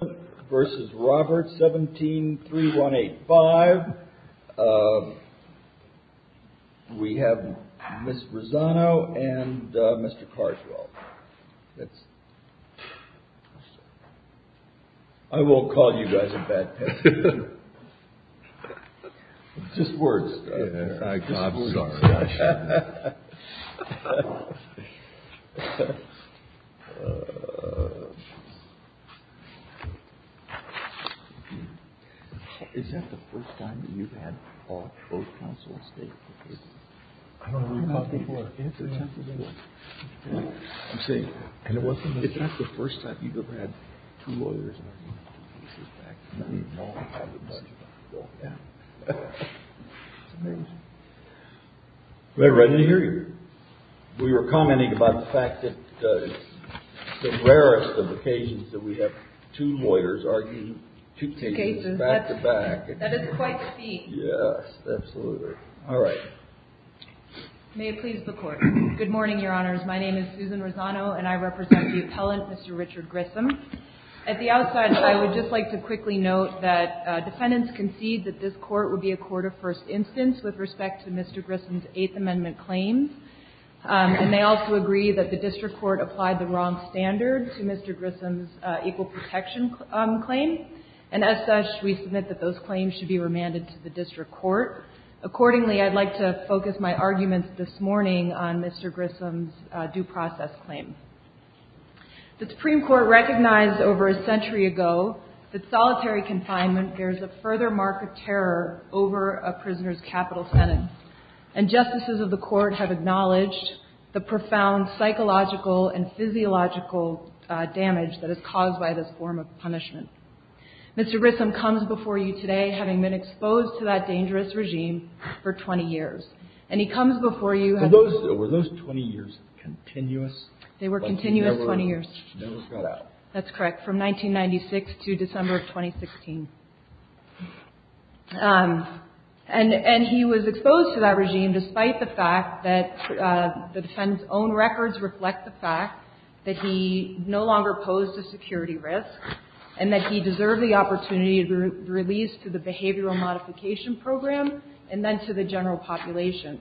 v. Roberts, 173185. We have Ms. Rosano and Mr. Carswell. I won't call you guys a bad judge. Is that the first time you've had all 12 counsels state the cases? I don't know how many. It's the tenth of the world. I'm saying, is that the first time you've ever had two lawyers argue about the cases back to me? No, I haven't. It's amazing. We were commenting about the fact that it's the rarest of occasions that we have two lawyers arguing two cases back-to-back. That is quite the feat. Yes, absolutely. All right. May it please the Court. Good morning, Your Honors. My name is Susan Rosano, and I represent the appellant, Mr. Richard Grissom. At the outset, I would just like to quickly note that defendants concede that this Court would be a court of first instance with respect to Mr. Grissom's Eighth Amendment claims. And they also agree that the district court applied the wrong standard to Mr. Grissom's equal protection claim. And as such, we submit that those claims should be remanded to the district court. Accordingly, I'd like to focus my arguments this morning on Mr. Grissom's due process claim. The Supreme Court recognized over a century ago that solitary confinement bears a further mark of terror over a prisoner's capital sentence. And justices of the Court have acknowledged the profound psychological and physiological damage that is caused by this form of punishment. Mr. Grissom comes before you today having been exposed to that dangerous regime for 20 years. And he comes before you as a prisoner for 20 years. Continuous? They were continuous 20 years. Never got out. That's correct. From 1996 to December of 2016. And he was exposed to that regime despite the fact that the defendant's own records reflect the fact that he no longer posed a security risk and that he deserved the opportunity to be released through the behavioral modification program and then to the general population.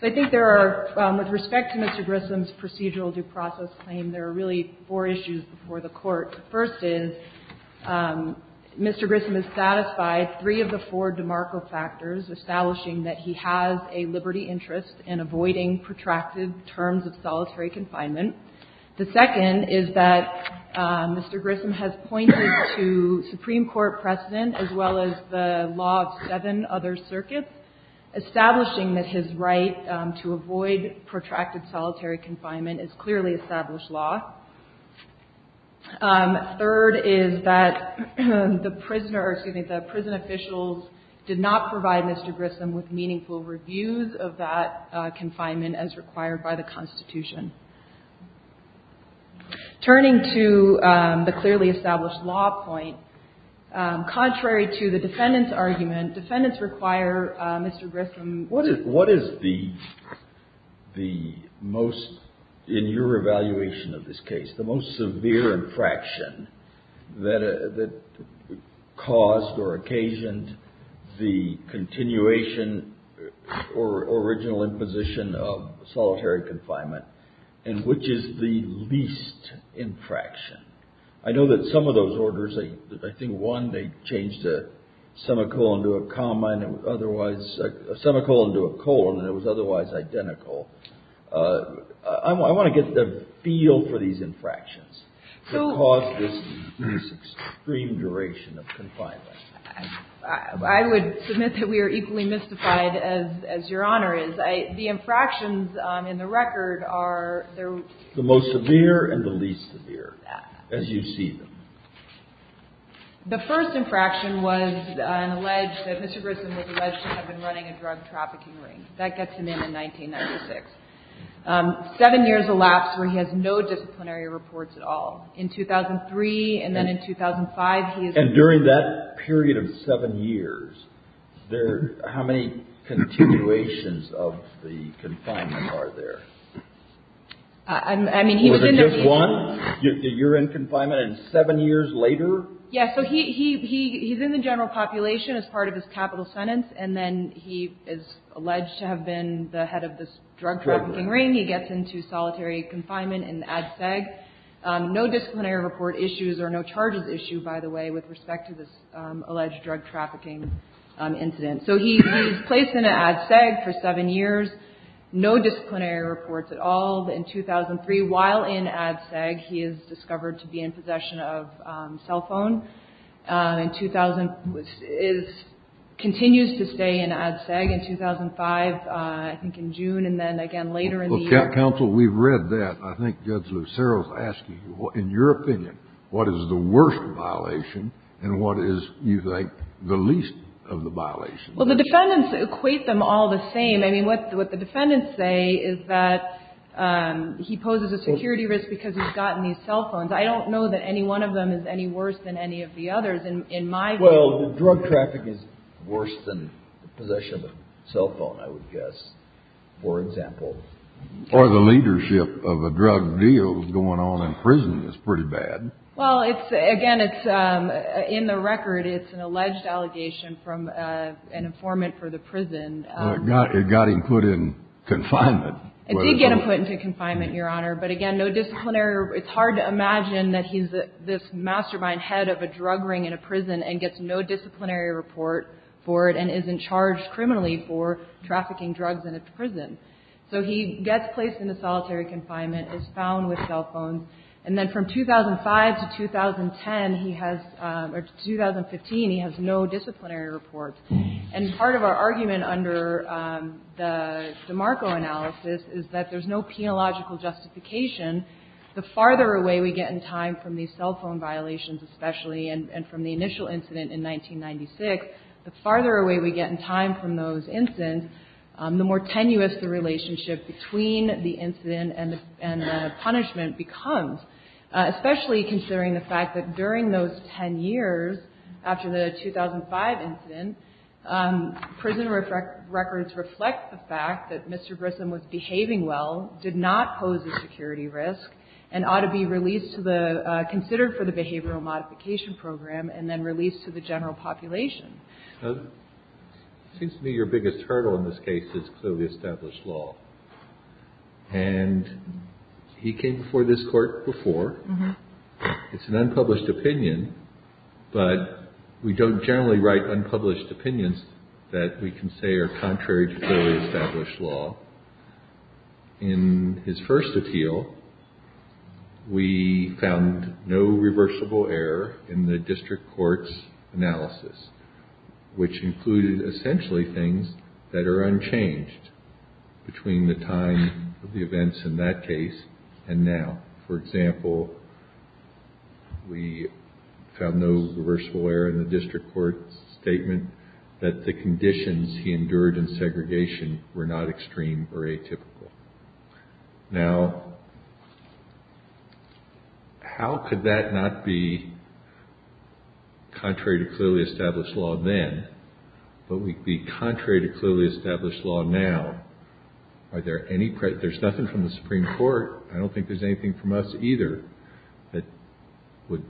So I think there are, with respect to Mr. Grissom's procedural due process claim, there are really four issues before the Court. The first is Mr. Grissom is satisfied three of the four demarco factors, establishing that he has a liberty interest in avoiding protracted terms of solitary confinement. The second is that Mr. Grissom has pointed to Supreme Court precedent as well as the law of seven other circuits. Establishing that his right to avoid protracted solitary confinement is clearly established law. Third is that the prisoner or, excuse me, the prison officials did not provide Mr. Grissom with meaningful reviews of that confinement as required by the Constitution. Turning to the clearly established law point, contrary to the defendant's argument, defendants require Mr. Grissom What is the most, in your evaluation of this case, the most severe infraction that caused or occasioned the continuation or original imposition of solitary confinement, and which is the least infraction? I know that some of those orders, I think one, they changed a semicolon to a comma and otherwise, a semicolon to a colon, and it was otherwise identical. I want to get a feel for these infractions that caused this extreme duration of confinement. I would submit that we are equally mystified as Your Honor is. The infractions in the record are the most severe and the least severe, as you see them. The first infraction was an alleged, that Mr. Grissom was alleged to have been running a drug trafficking ring. That gets him in in 1996. Seven years elapsed where he has no disciplinary reports at all. In 2003 and then in 2005, he is And during that period of seven years, there, how many continuations of the confinement are there? I mean, he was in a Was it just one? You're in confinement and seven years later? Yeah, so he's in the general population as part of his capital sentence, and then he is alleged to have been the head of this drug trafficking ring. He gets into solitary confinement in ADSEG. No disciplinary report issues or no charges issue, by the way, with respect to this alleged drug trafficking incident. So he's placed in ADSEG for seven years. No disciplinary reports at all. In 2003, while in ADSEG, he is discovered to be in possession of cell phone. In 2000, which is, continues to stay in ADSEG. In 2005, I think in June, and then again later in the year. Counsel, we've read that. I think Judge Lucero is asking you, in your opinion, what is the worst violation and what is, you think, the least of the violations? Well, the defendants equate them all the same. I mean, what the defendants say is that he poses a security risk because he's gotten these cell phones. I don't know that any one of them is any worse than any of the others in my view. Well, the drug traffic is worse than possession of a cell phone, I would guess, for example. Or the leadership of a drug deal going on in prison is pretty bad. Well, it's, again, it's, in the record, it's an alleged allegation from an informant for the prison. It got him put in confinement. It did get him put into confinement, Your Honor, but again, no disciplinary, it's hard to imagine that he's this mastermind head of a drug ring in a prison and gets no disciplinary report for it and isn't charged criminally for trafficking drugs in a prison. So he gets placed into solitary confinement, is found with cell phones, and then from 2005 to 2010, he has, or 2015, he has no disciplinary report. And part of our argument under the DeMarco analysis is that there's no penological justification. The farther away we get in time from these cell phone violations especially, and from the initial incident in 1996, the farther away we get in time from those incidents, the more tenuous the relationship between the incident and the punishment becomes, especially considering the fact that during those 10 years, after the 2005 incident, prison records reflect the fact that Mr. Grissom was behaving well, did not pose a security risk, and ought to be released to the, considered for the Behavioral Modification Program and then released to the general population. Kennedy. It seems to me your biggest hurdle in this case is clearly established law. And he came before this Court before. It's an unpublished opinion, but we don't generally write unpublished opinions that we can say are contrary to clearly established law. In his first appeal, we found no reversible error in the district court's analysis, which included essentially things that are unchanged between the time of the events in that case and now. For example, we found no reversible error in the district court's statement that the conditions he endured in segregation were not extreme or atypical. Now, how could that not be contrary to clearly established law then, but be contrary to clearly established law now? There's nothing from the Supreme Court, I don't think there's anything from us either, that would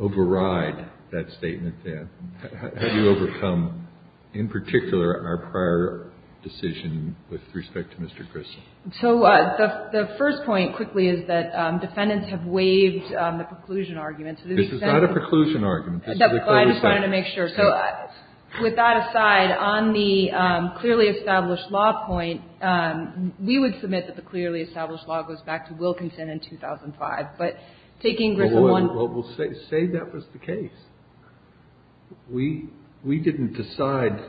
override that statement then. How do you overcome, in particular, our prior decision with respect to Mr. Grissom? So the first point, quickly, is that defendants have waived the preclusion argument. This is not a preclusion argument. I just wanted to make sure. So with that aside, on the clearly established law point, we would submit that the clearly established law goes back to Wilkinson in 2005. But taking Grissom on the case. Well, we'll say that was the case. We didn't decide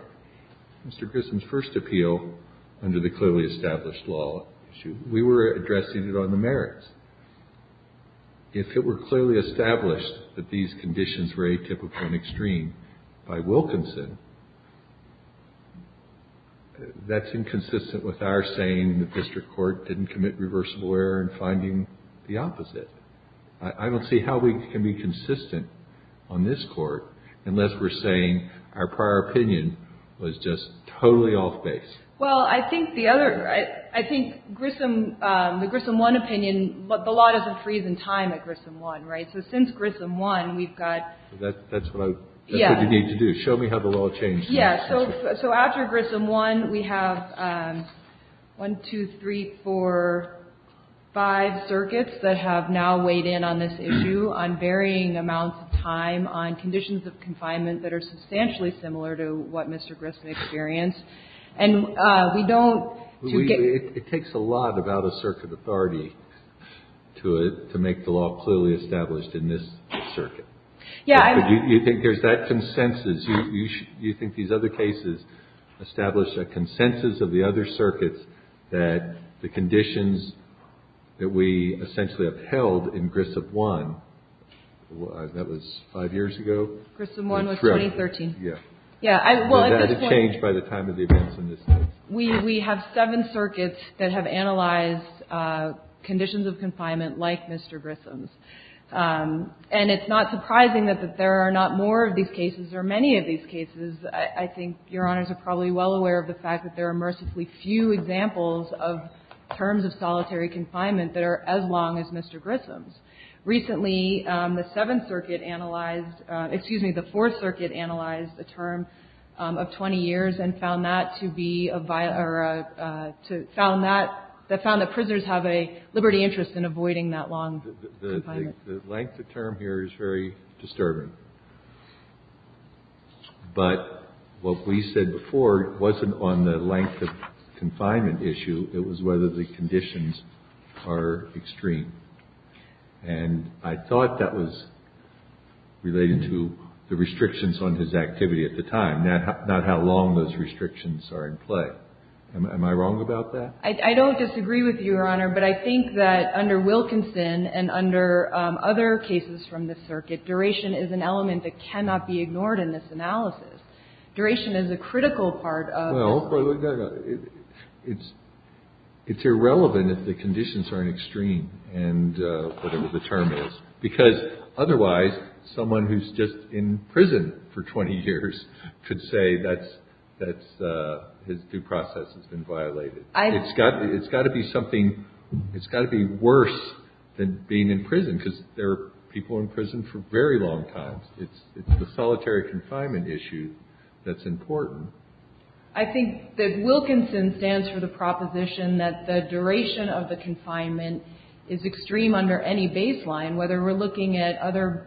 Mr. Grissom's first appeal under the clearly established law. We were addressing it on the merits. If it were clearly established that these conditions were atypical and extreme by Wilkinson, that's inconsistent with our saying the district court didn't commit reversible error in finding the opposite. I don't see how we can be consistent on this court unless we're saying our prior opinion was just totally off base. Well, I think the other, I think Grissom, the Grissom 1 opinion, the law doesn't freeze in time at Grissom 1, right? So since Grissom 1, we've got. That's what I, that's what you need to do. Show me how the law changed. Yeah. So after Grissom 1, we have 1, 2, 3, 4, 5 circuits that have now weighed in on this issue on varying amounts of time on conditions of confinement that are substantially similar to what Mr. Grissom experienced. And we don't. It takes a lot of out-of-circuit authority to make the law clearly established in this circuit. Yeah. You think there's that consensus? You think these other cases establish a consensus of the other circuits that the conditions that we essentially upheld in Grissom 1, that was 5 years ago? Grissom 1 was 2013. Yeah. Yeah. Well, at this point. But that has changed by the time of the events in this case. We have 7 circuits that have analyzed conditions of confinement like Mr. Grissom's. And it's not surprising that there are not more of these cases or many of these cases. I think Your Honors are probably well aware of the fact that there are mercifully few examples of terms of solitary confinement that are as long as Mr. Grissom's. Recently, the 7th Circuit analyzed, excuse me, the 4th Circuit analyzed a term of 20 years and found that to be a, or found that, found that prisoners have a liberty interest in avoiding that long confinement. The length of term here is very disturbing. But what we said before wasn't on the length of confinement issue. It was whether the conditions are extreme. And I thought that was related to the restrictions on his activity at the time, not how long those restrictions are in play. Am I wrong about that? I don't disagree with you, Your Honor. But I think that under Wilkinson and under other cases from this circuit, duration is an element that cannot be ignored in this analysis. Duration is a critical part of this. Well, it's irrelevant if the conditions are in extreme, and whatever the term is, because otherwise, someone who's just in prison for 20 years could say that his due process has been violated. It's got to be something, it's got to be worse than being in prison, because there are people in prison for very long times. It's the solitary confinement issue that's important. I think that Wilkinson stands for the proposition that the duration of the confinement is extreme under any baseline, whether we're looking at other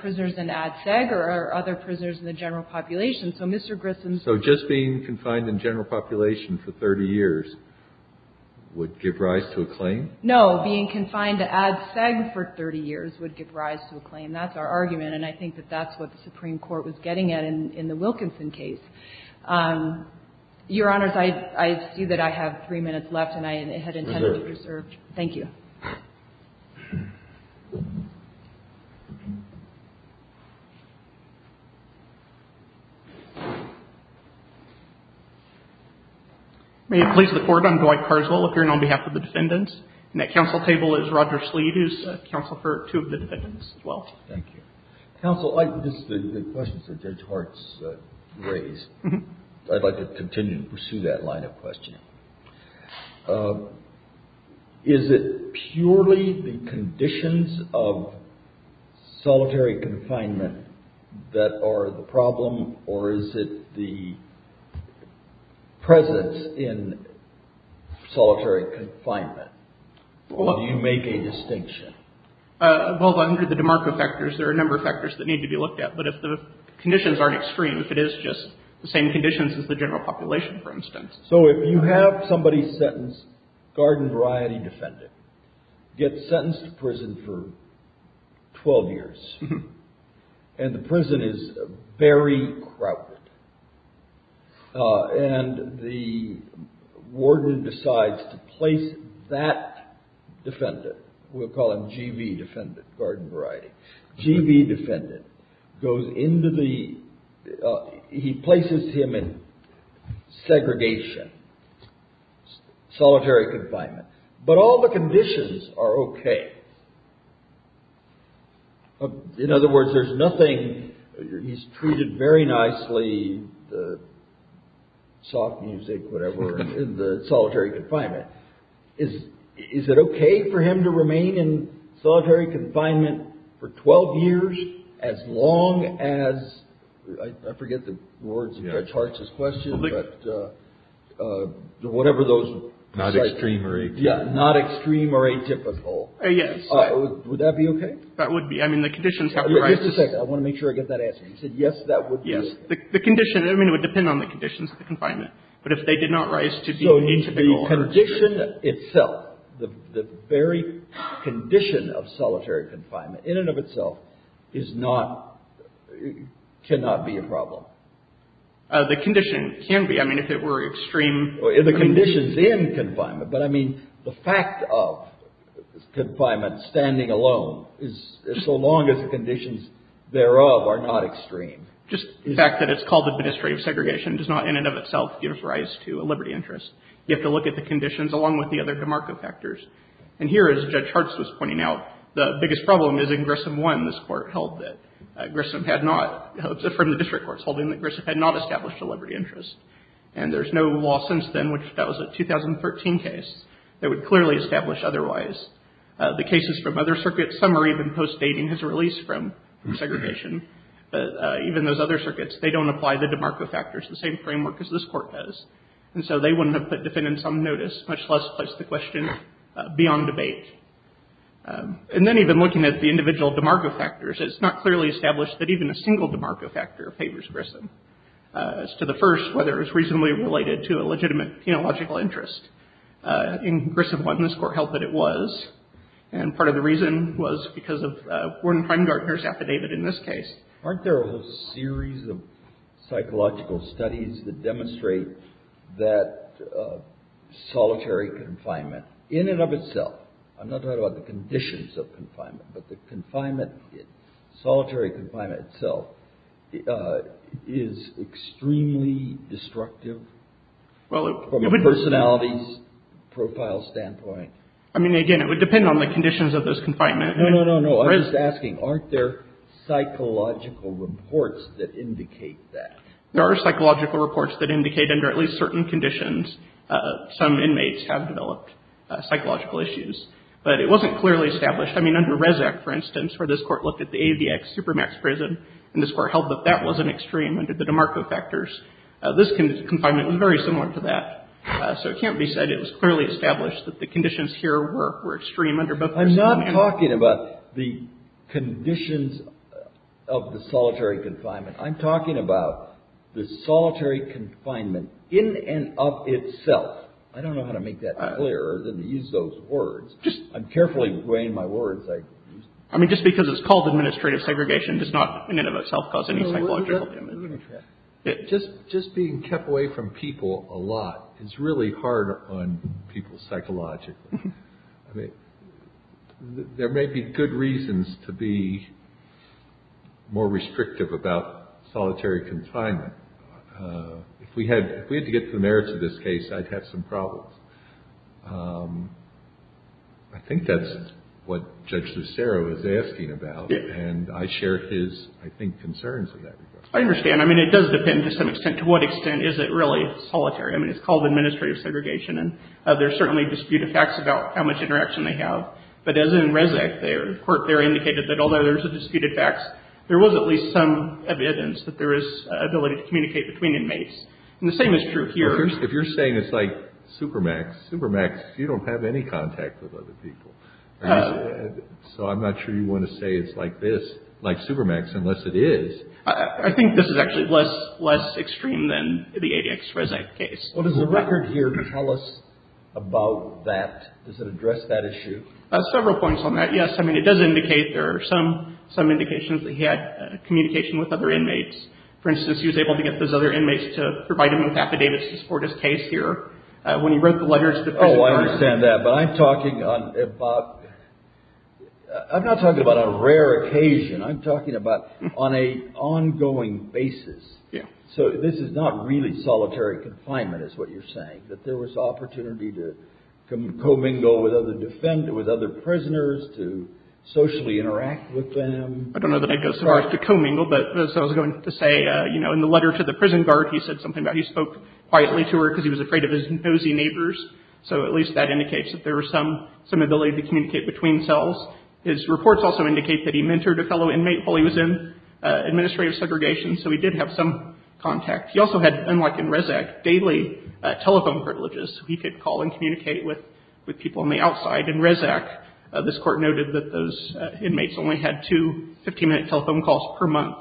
prisoners in ADSEG or other prisoners in the general population. So Mr. Grissom's ---- So just being confined in general population for 30 years would give rise to a claim? No. Being confined to ADSEG for 30 years would give rise to a claim. That's our argument. And I think that that's what the Supreme Court was getting at in the Wilkinson case. Your Honors, I see that I have three minutes left, and I had intended to reserve. Reserve. Thank you. May it please the Court, I'm Dwight Carswell, appearing on behalf of the defendants, and at counsel table is Roger Slead, who's counsel for two of the defendants as well. Thank you. Counsel, this is the questions that Judge Hart's raised. I'd like to continue to pursue that line of questioning. Is it purely the conditions of solitary confinement that are the problem, or is it the presence in solitary confinement? Or do you make a distinction? Well, under the DeMarco factors, there are a number of factors that need to be looked at. But if the conditions aren't extreme, if it is just the same conditions as the general population, for instance. So if you have somebody sentenced, garden variety defendant, get sentenced to prison for 12 years, and the prison is very crowded, and the warden decides to place that defendant, we'll call him G.V. defendant, garden variety. G.V. defendant goes into the, he places him in segregation, solitary confinement. But all the conditions are okay. In other words, there's nothing, he's treated very nicely, the soft music, whatever, in the solitary confinement. Is it okay for him to remain in solitary confinement for 12 years as long as, I forget the words of Judge Hart's question, but whatever those. Not extreme or atypical. Yeah, not extreme or atypical. Yes. Would that be okay? That would be. I mean, the conditions have to rise. Just a second. I want to make sure I get that answer. He said yes, that would be. Yes. The condition, I mean, it would depend on the conditions of the confinement. So the condition itself, the very condition of solitary confinement in and of itself is not, cannot be a problem. The condition can be, I mean, if it were extreme. The conditions in confinement, but I mean, the fact of confinement standing alone is, so long as the conditions thereof are not extreme. Just the fact that it's called administrative segregation does not, in and of itself, give rise to a liberty interest. You have to look at the conditions along with the other DeMarco factors. And here, as Judge Hart was pointing out, the biggest problem is in Grissom 1, this court held that Grissom had not, from the district courts holding that Grissom had not established a liberty interest. And there's no law since then, which that was a 2013 case, that would clearly establish otherwise. The cases from other circuits, some are even post-dating his release from segregation. But even those other circuits, they don't apply the DeMarco factors, the same framework as this court does. And so they wouldn't have put defendants on notice, much less placed the question beyond debate. And then even looking at the individual DeMarco factors, it's not clearly established that even a single DeMarco factor favors Grissom. As to the first, whether it was reasonably related to a legitimate penological interest. In Grissom 1, this court held that it was. And part of the reason was because of Gordon Heimgartner's affidavit in this case. Aren't there a whole series of psychological studies that demonstrate that solitary confinement, in and of itself, I'm not talking about the conditions of confinement, but the confinement, solitary confinement itself, is extremely destructive from a personality's profile standpoint? I mean, again, it would depend on the conditions of this confinement. No, no, no, no. I'm just asking, aren't there psychological reports that indicate that? There are psychological reports that indicate under at least certain conditions, some inmates have developed psychological issues. But it wasn't clearly established. I mean, under Rezac, for instance, where this court looked at the AVX Supermax prison, and this court held that that was an extreme under the DeMarco factors. This confinement was very similar to that. So it can't be said it was clearly established that the conditions here were extreme under both prisoners. I'm not talking about the conditions of the solitary confinement. I'm talking about the solitary confinement in and of itself. I don't know how to make that clearer than to use those words. I'm carefully weighing my words. I mean, just because it's called administrative segregation does not in and of itself cause any psychological damage. Just being kept away from people a lot is really hard on people psychologically. I mean, there may be good reasons to be more restrictive about solitary confinement. If we had to get to the merits of this case, I'd have some problems. I think that's what Judge Lucero is asking about. And I share his, I think, concerns in that regard. I understand. I mean, it does depend to some extent to what extent is it really solitary. I mean, it's called administrative segregation. And there's certainly disputed facts about how much interaction they have. But as in RESAC, the court there indicated that although there's disputed facts, there was at least some evidence that there is ability to communicate between inmates. And the same is true here. If you're saying it's like Supermax, Supermax, you don't have any contact with other people. So I'm not sure you want to say it's like this, like Supermax, unless it is. I think this is actually less extreme than the ADX RESAC case. Well, does the record here tell us about that? Does it address that issue? Several points on that, yes. I mean, it does indicate there are some indications that he had communication with other inmates. For instance, he was able to get those other inmates to provide him with affidavits to support his case here. When he wrote the letters to the prison guard. Oh, I understand that. But I'm talking about, I'm not talking about a rare occasion. I'm talking about on an ongoing basis. Yeah. So this is not really solitary confinement is what you're saying, that there was opportunity to co-mingle with other defendants, with other prisoners, to socially interact with them. I don't know that I'd go so far as to co-mingle, but as I was going to say, you know, in the letter to the prison guard, he said something about he spoke quietly to her because he was afraid of his nosy neighbors. So at least that indicates that there was some ability to communicate between cells. His reports also indicate that he mentored a fellow inmate while he was in administrative segregation. So he did have some contact. He also had, unlike in Rezac, daily telephone privileges. He could call and communicate with people on the outside. In Rezac, this Court noted that those inmates only had two 15-minute telephone calls per month.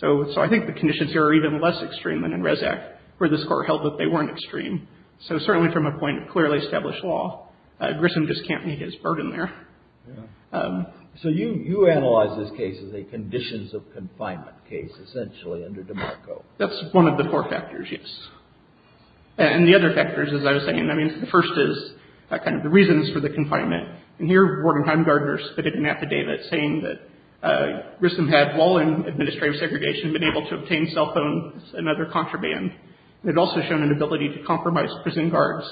So I think the conditions here are even less extreme than in Rezac, where this Court held that they weren't extreme. So certainly from a point of clearly established law, Grissom just can't meet his burden there. So you analyze this case as a conditions of confinement case, essentially, under DeMarco. That's one of the core factors, yes. And the other factors, as I was saying, I mean, the first is kind of the reasons for the confinement. And here, Ward and Heimgartner spitted an affidavit saying that Grissom had, while in administrative segregation, been able to obtain cell phones and other contraband. They'd also shown an ability to compromise prison guards.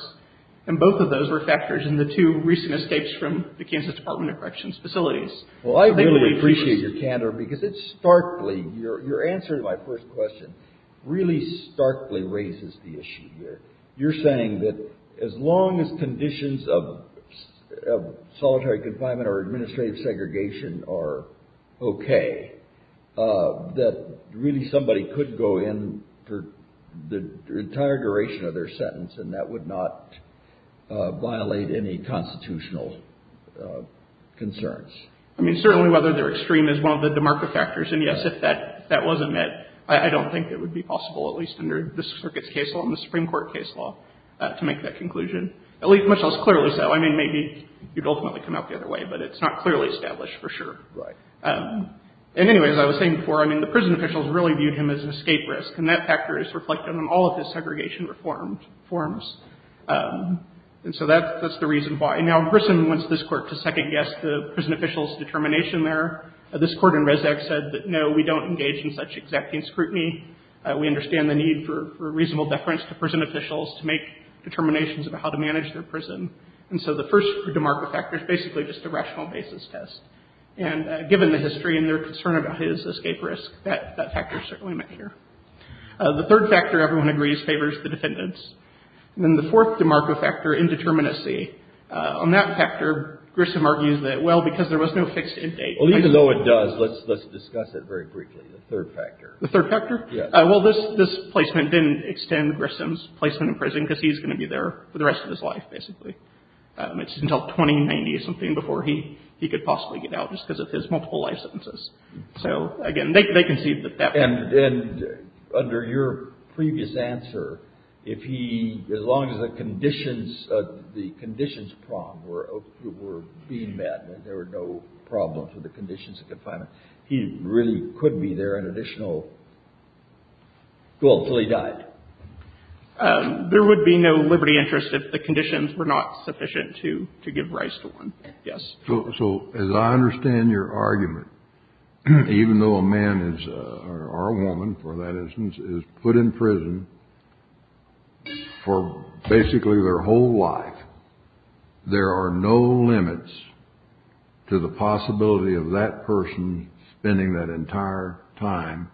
And both of those were factors in the two recent escapes from the Kansas Department of Corrections facilities. Well, I really appreciate your candor, because it starkly, your answer to my first question, really starkly raises the issue here. You're saying that as long as conditions of solitary confinement or administrative segregation are okay, that really somebody could go in for the entire duration of their sentence, and that would not violate any constitutional concerns? I mean, certainly whether they're extreme is one of the DeMarco factors. And, yes, if that wasn't met, I don't think it would be possible, at least under this Circuit's case law and the Supreme Court case law, to make that conclusion, at least much less clearly so. I mean, maybe you'd ultimately come out the other way, but it's not clearly established for sure. Right. And, anyway, as I was saying before, I mean, the prison officials really viewed him as an escape risk, and that factor is reflected in all of his segregation reforms. And so that's the reason why. Now, in prison, once this Court has second-guessed the prison officials' determination there, this Court in Res Act said that, no, we don't engage in such executing scrutiny. We understand the need for reasonable deference to prison officials to make determinations about how to manage their prison. And so the first DeMarco factor is basically just a rational basis test. And given the history and their concern about his escape risk, that factor is certainly met here. The third factor, everyone agrees, favors the defendants. And then the fourth DeMarco factor, indeterminacy. On that factor, Grissom argues that, well, because there was no fixed end date. Well, even though it does, let's discuss it very briefly, the third factor. The third factor? Yes. Well, this placement didn't extend Grissom's placement in prison, because he's going to be there for the rest of his life, basically. It's until 2090 or something before he could possibly get out, just because of his multiple life sentences. So, again, they concede that that was the case. And under your previous answer, if he, as long as the conditions, the conditions were being met and there were no problems with the conditions of confinement, he really could be there an additional, well, until he died? There would be no liberty interest if the conditions were not sufficient to give rise to one. Yes. So as I understand your argument, even though a man or a woman, for that instance, is put in prison for basically their whole life, there are no limits to the possibility of that person spending that entire time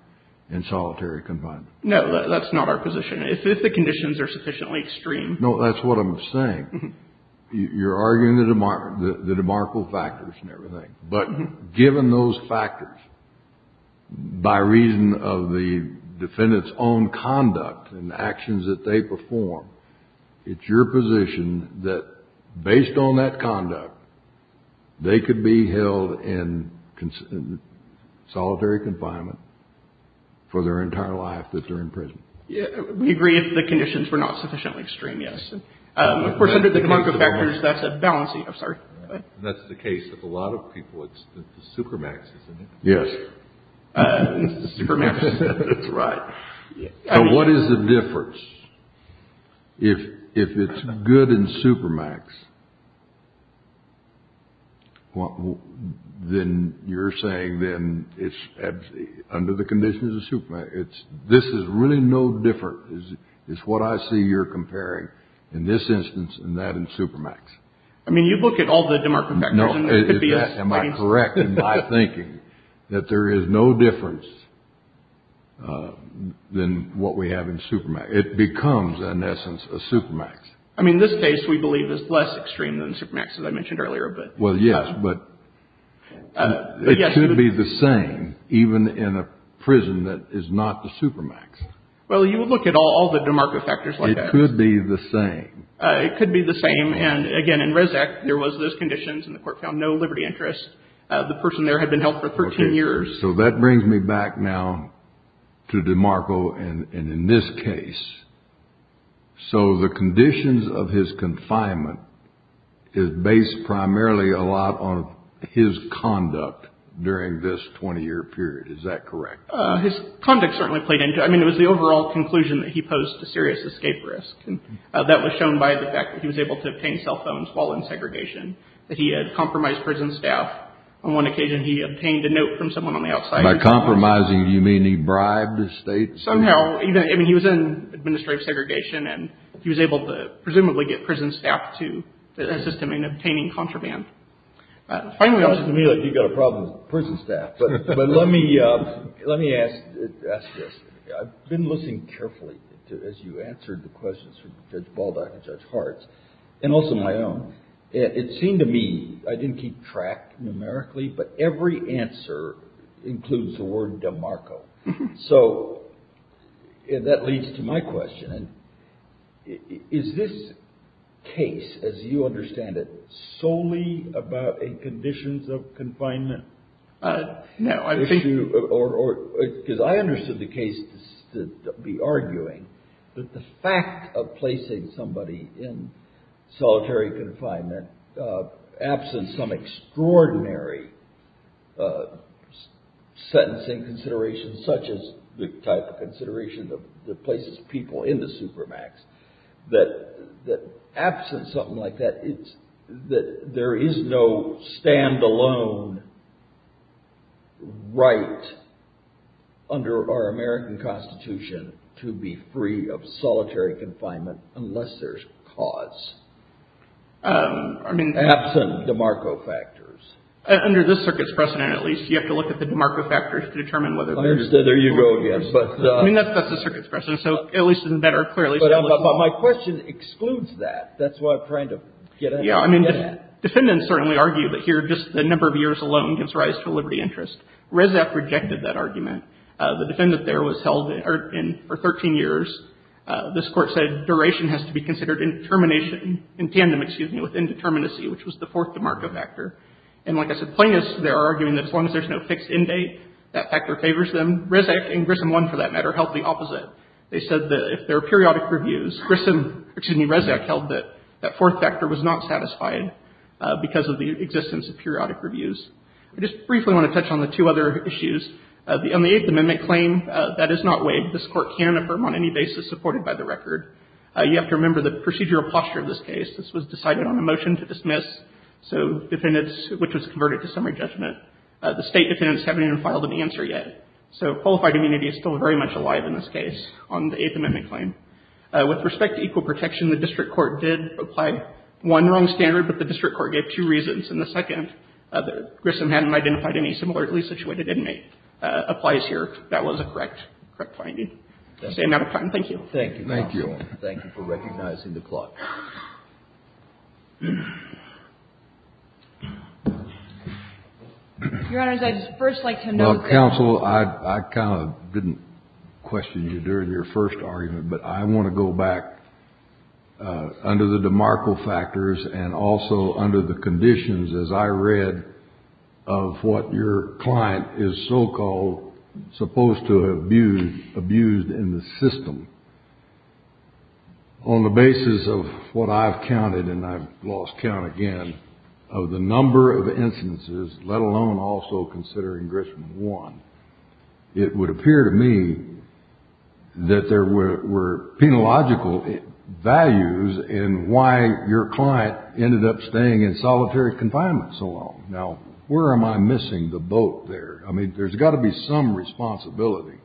in solitary confinement? No, that's not our position. If the conditions are sufficiently extreme. No, that's what I'm saying. You're arguing the demarcable factors and everything. But given those factors, by reason of the defendant's own conduct and actions that they perform, it's your position that based on that conduct, they could be held in solitary confinement for their entire life that they're in prison. We agree if the conditions were not sufficiently extreme, yes. Of course, under the demarcable factors, that's a balancing. I'm sorry. That's the case of a lot of people. It's the supermax, isn't it? Yes. It's the supermax. That's right. What is the difference? If it's good in supermax, then you're saying then it's under the conditions of supermax. This is really no different. It's what I see you're comparing in this instance and that in supermax. I mean, you look at all the demarcable factors. Am I correct in my thinking that there is no difference than what we have in supermax? It becomes, in essence, a supermax. I mean, this case, we believe, is less extreme than supermax, as I mentioned earlier. Well, yes, but it could be the same even in a prison that is not the supermax. Well, you would look at all the demarcable factors like that. It could be the same. It could be the same. And, again, in Rezac, there was those conditions, and the court found no liberty interest. The person there had been held for 13 years. So that brings me back now to DeMarco and in this case. So the conditions of his confinement is based primarily a lot on his conduct during this 20-year period. Is that correct? His conduct certainly played into it. I mean, it was the overall conclusion that he posed a serious escape risk. That was shown by the fact that he was able to obtain cell phones while in segregation, that he had compromised prison staff. On one occasion, he obtained a note from someone on the outside. By compromising, do you mean he bribed the state? Somehow. I mean, he was in administrative segregation, and he was able to presumably get prison staff to assist him in obtaining contraband. It seems to me like you've got a problem with prison staff, but let me ask this. I've been listening carefully as you answered the questions from Judge Baldock and Judge Hartz, and also my own. It seemed to me I didn't keep track numerically, but every answer includes the word DeMarco. So that leads to my question. Is this case, as you understand it, solely about conditions of confinement? No. Because I understood the case to be arguing that the fact of placing somebody in solitary confinement, absent some extraordinary sentencing considerations such as the type of consideration that places people in the supermax, that absent something like that, there is no stand-alone right under our American Constitution to be free of solitary confinement unless there's cause. Absent DeMarco factors. Under this circuit's precedent, at least, you have to look at the DeMarco factors to determine whether... I understand. There you go again. I mean, that's the circuit's precedent, so at least it's better, clearly. But my question excludes that. That's what I'm trying to get at. Yeah, I mean, defendants certainly argue that here just the number of years alone gives rise to a liberty interest. Rezac rejected that argument. The defendant there was held for 13 years. This Court said duration has to be considered in termination, in tandem, excuse me, with indeterminacy, which was the fourth DeMarco factor. And like I said, plaintiffs there are arguing that as long as there's no fixed end date, that factor favors them. And Rezac and Grissom 1, for that matter, held the opposite. They said that if there are periodic reviews, Grissom, excuse me, Rezac held that that fourth factor was not satisfied because of the existence of periodic reviews. I just briefly want to touch on the two other issues. On the Eighth Amendment claim, that is not waived. This Court can affirm on any basis supported by the record. You have to remember the procedural posture of this case. This was decided on a motion to dismiss, so defendants, which was converted to summary judgment, the State defendants haven't even filed an answer yet. So qualified immunity is still very much alive in this case on the Eighth Amendment claim. With respect to equal protection, the district court did apply one wrong standard, but the district court gave two reasons. And the second, Grissom hadn't identified any similarly situated inmate. Applies here. That was a correct finding. That's the end of my time. Thank you. Thank you. Thank you for recognizing the clock. Your Honor, I'd just first like to note that. Well, counsel, I kind of didn't question you during your first argument, but I want to go back under the demarco factors and also under the conditions, as I read, of what your client is so-called supposed to have abused in the system. On the basis of what I've counted, and I've lost count again, of the number of instances, let alone also considering Grissom one, it would appear to me that there were penological values in why your client ended up staying in solitary confinement so long. Now, where am I missing the boat there? I mean, there's got to be some responsibility.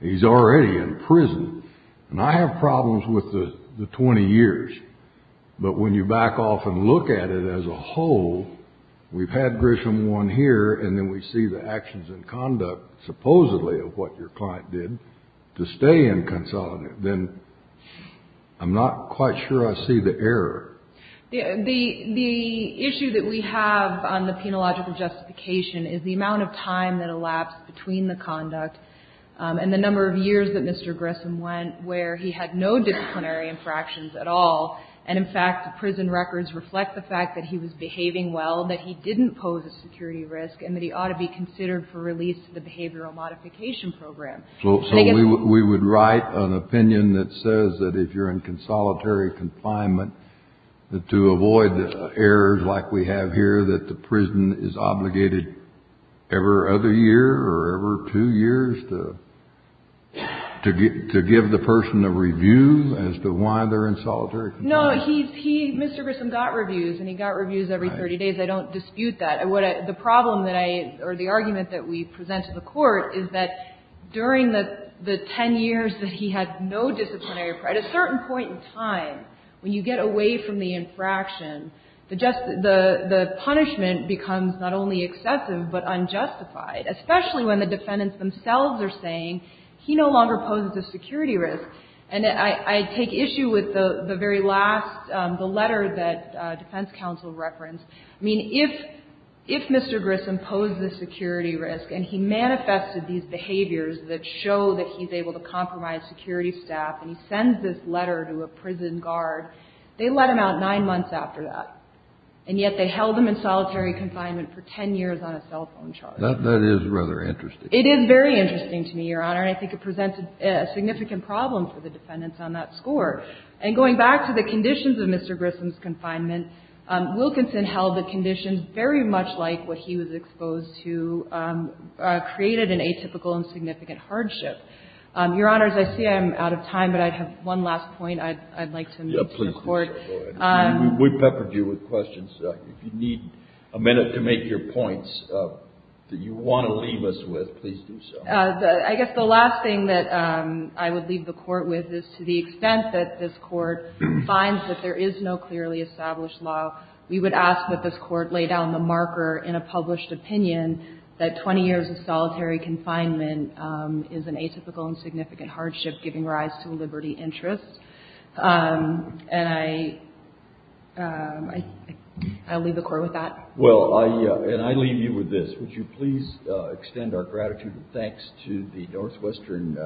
He's already in prison. And I have problems with the 20 years. But when you back off and look at it as a whole, we've had Grissom one here, and then we see the actions and conduct, supposedly, of what your client did to stay in consolidate. Then I'm not quite sure I see the error. The issue that we have on the penological justification is the amount of time that elapsed between the conduct and the number of years that Mr. Grissom went where he had no disciplinary infractions at all. And, in fact, the prison records reflect the fact that he was behaving well, that he didn't pose a security risk, and that he ought to be considered for release to the behavioral modification program. So we would write an opinion that says that if you're in consolidate confinement, that to avoid errors like we have here, that the prison is obligated every other year or every two years to give the person a review as to why they're in solitary confinement? No. Mr. Grissom got reviews, and he got reviews every 30 days. I don't dispute that. The problem that I or the argument that we present to the Court is that during the 10 years that he had no disciplinary infraction, at a certain point in time, when you get away from the infraction, the punishment becomes not only excessive but unjustified, especially when the defendants themselves are saying he no longer poses a security risk. And I take issue with the very last, the letter that defense counsel referenced. I mean, if Mr. Grissom posed a security risk and he manifested these behaviors that show that he's able to compromise security staff, and he sends this letter to a prison guard, they let him out nine months after that. And yet they held him in solitary confinement for 10 years on a cell phone charge. That is rather interesting. It is very interesting to me, Your Honor, and I think it presented a significant problem for the defendants on that score. And going back to the conditions of Mr. Grissom's confinement, Wilkinson held the conditions very much like what he was exposed to, created an atypical and significant hardship. Your Honors, I see I'm out of time, but I have one last point I'd like to make to the Court. We peppered you with questions. If you need a minute to make your points that you want to leave us with, please do so. I guess the last thing that I would leave the Court with is to the extent that this Court finds that there is no clearly established law, we would ask that this Court lay down the marker in a published opinion that 20 years of solitary confinement is an atypical and significant hardship giving rise to liberty interests. And I'll leave the Court with that. Well, and I leave you with this. Would you please extend our gratitude and thanks to the Northwestern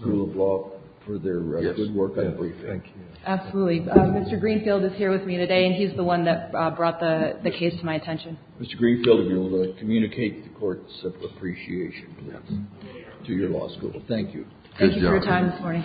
School of Law for their good work I believe. Yes. Thank you. Absolutely. Mr. Greenfield is here with me today, and he's the one that brought the case to my attention. Mr. Greenfield, if you will communicate the Court's appreciation, please, to your law school. Thank you. Thank you for your time this morning. Thank you, Your Honor.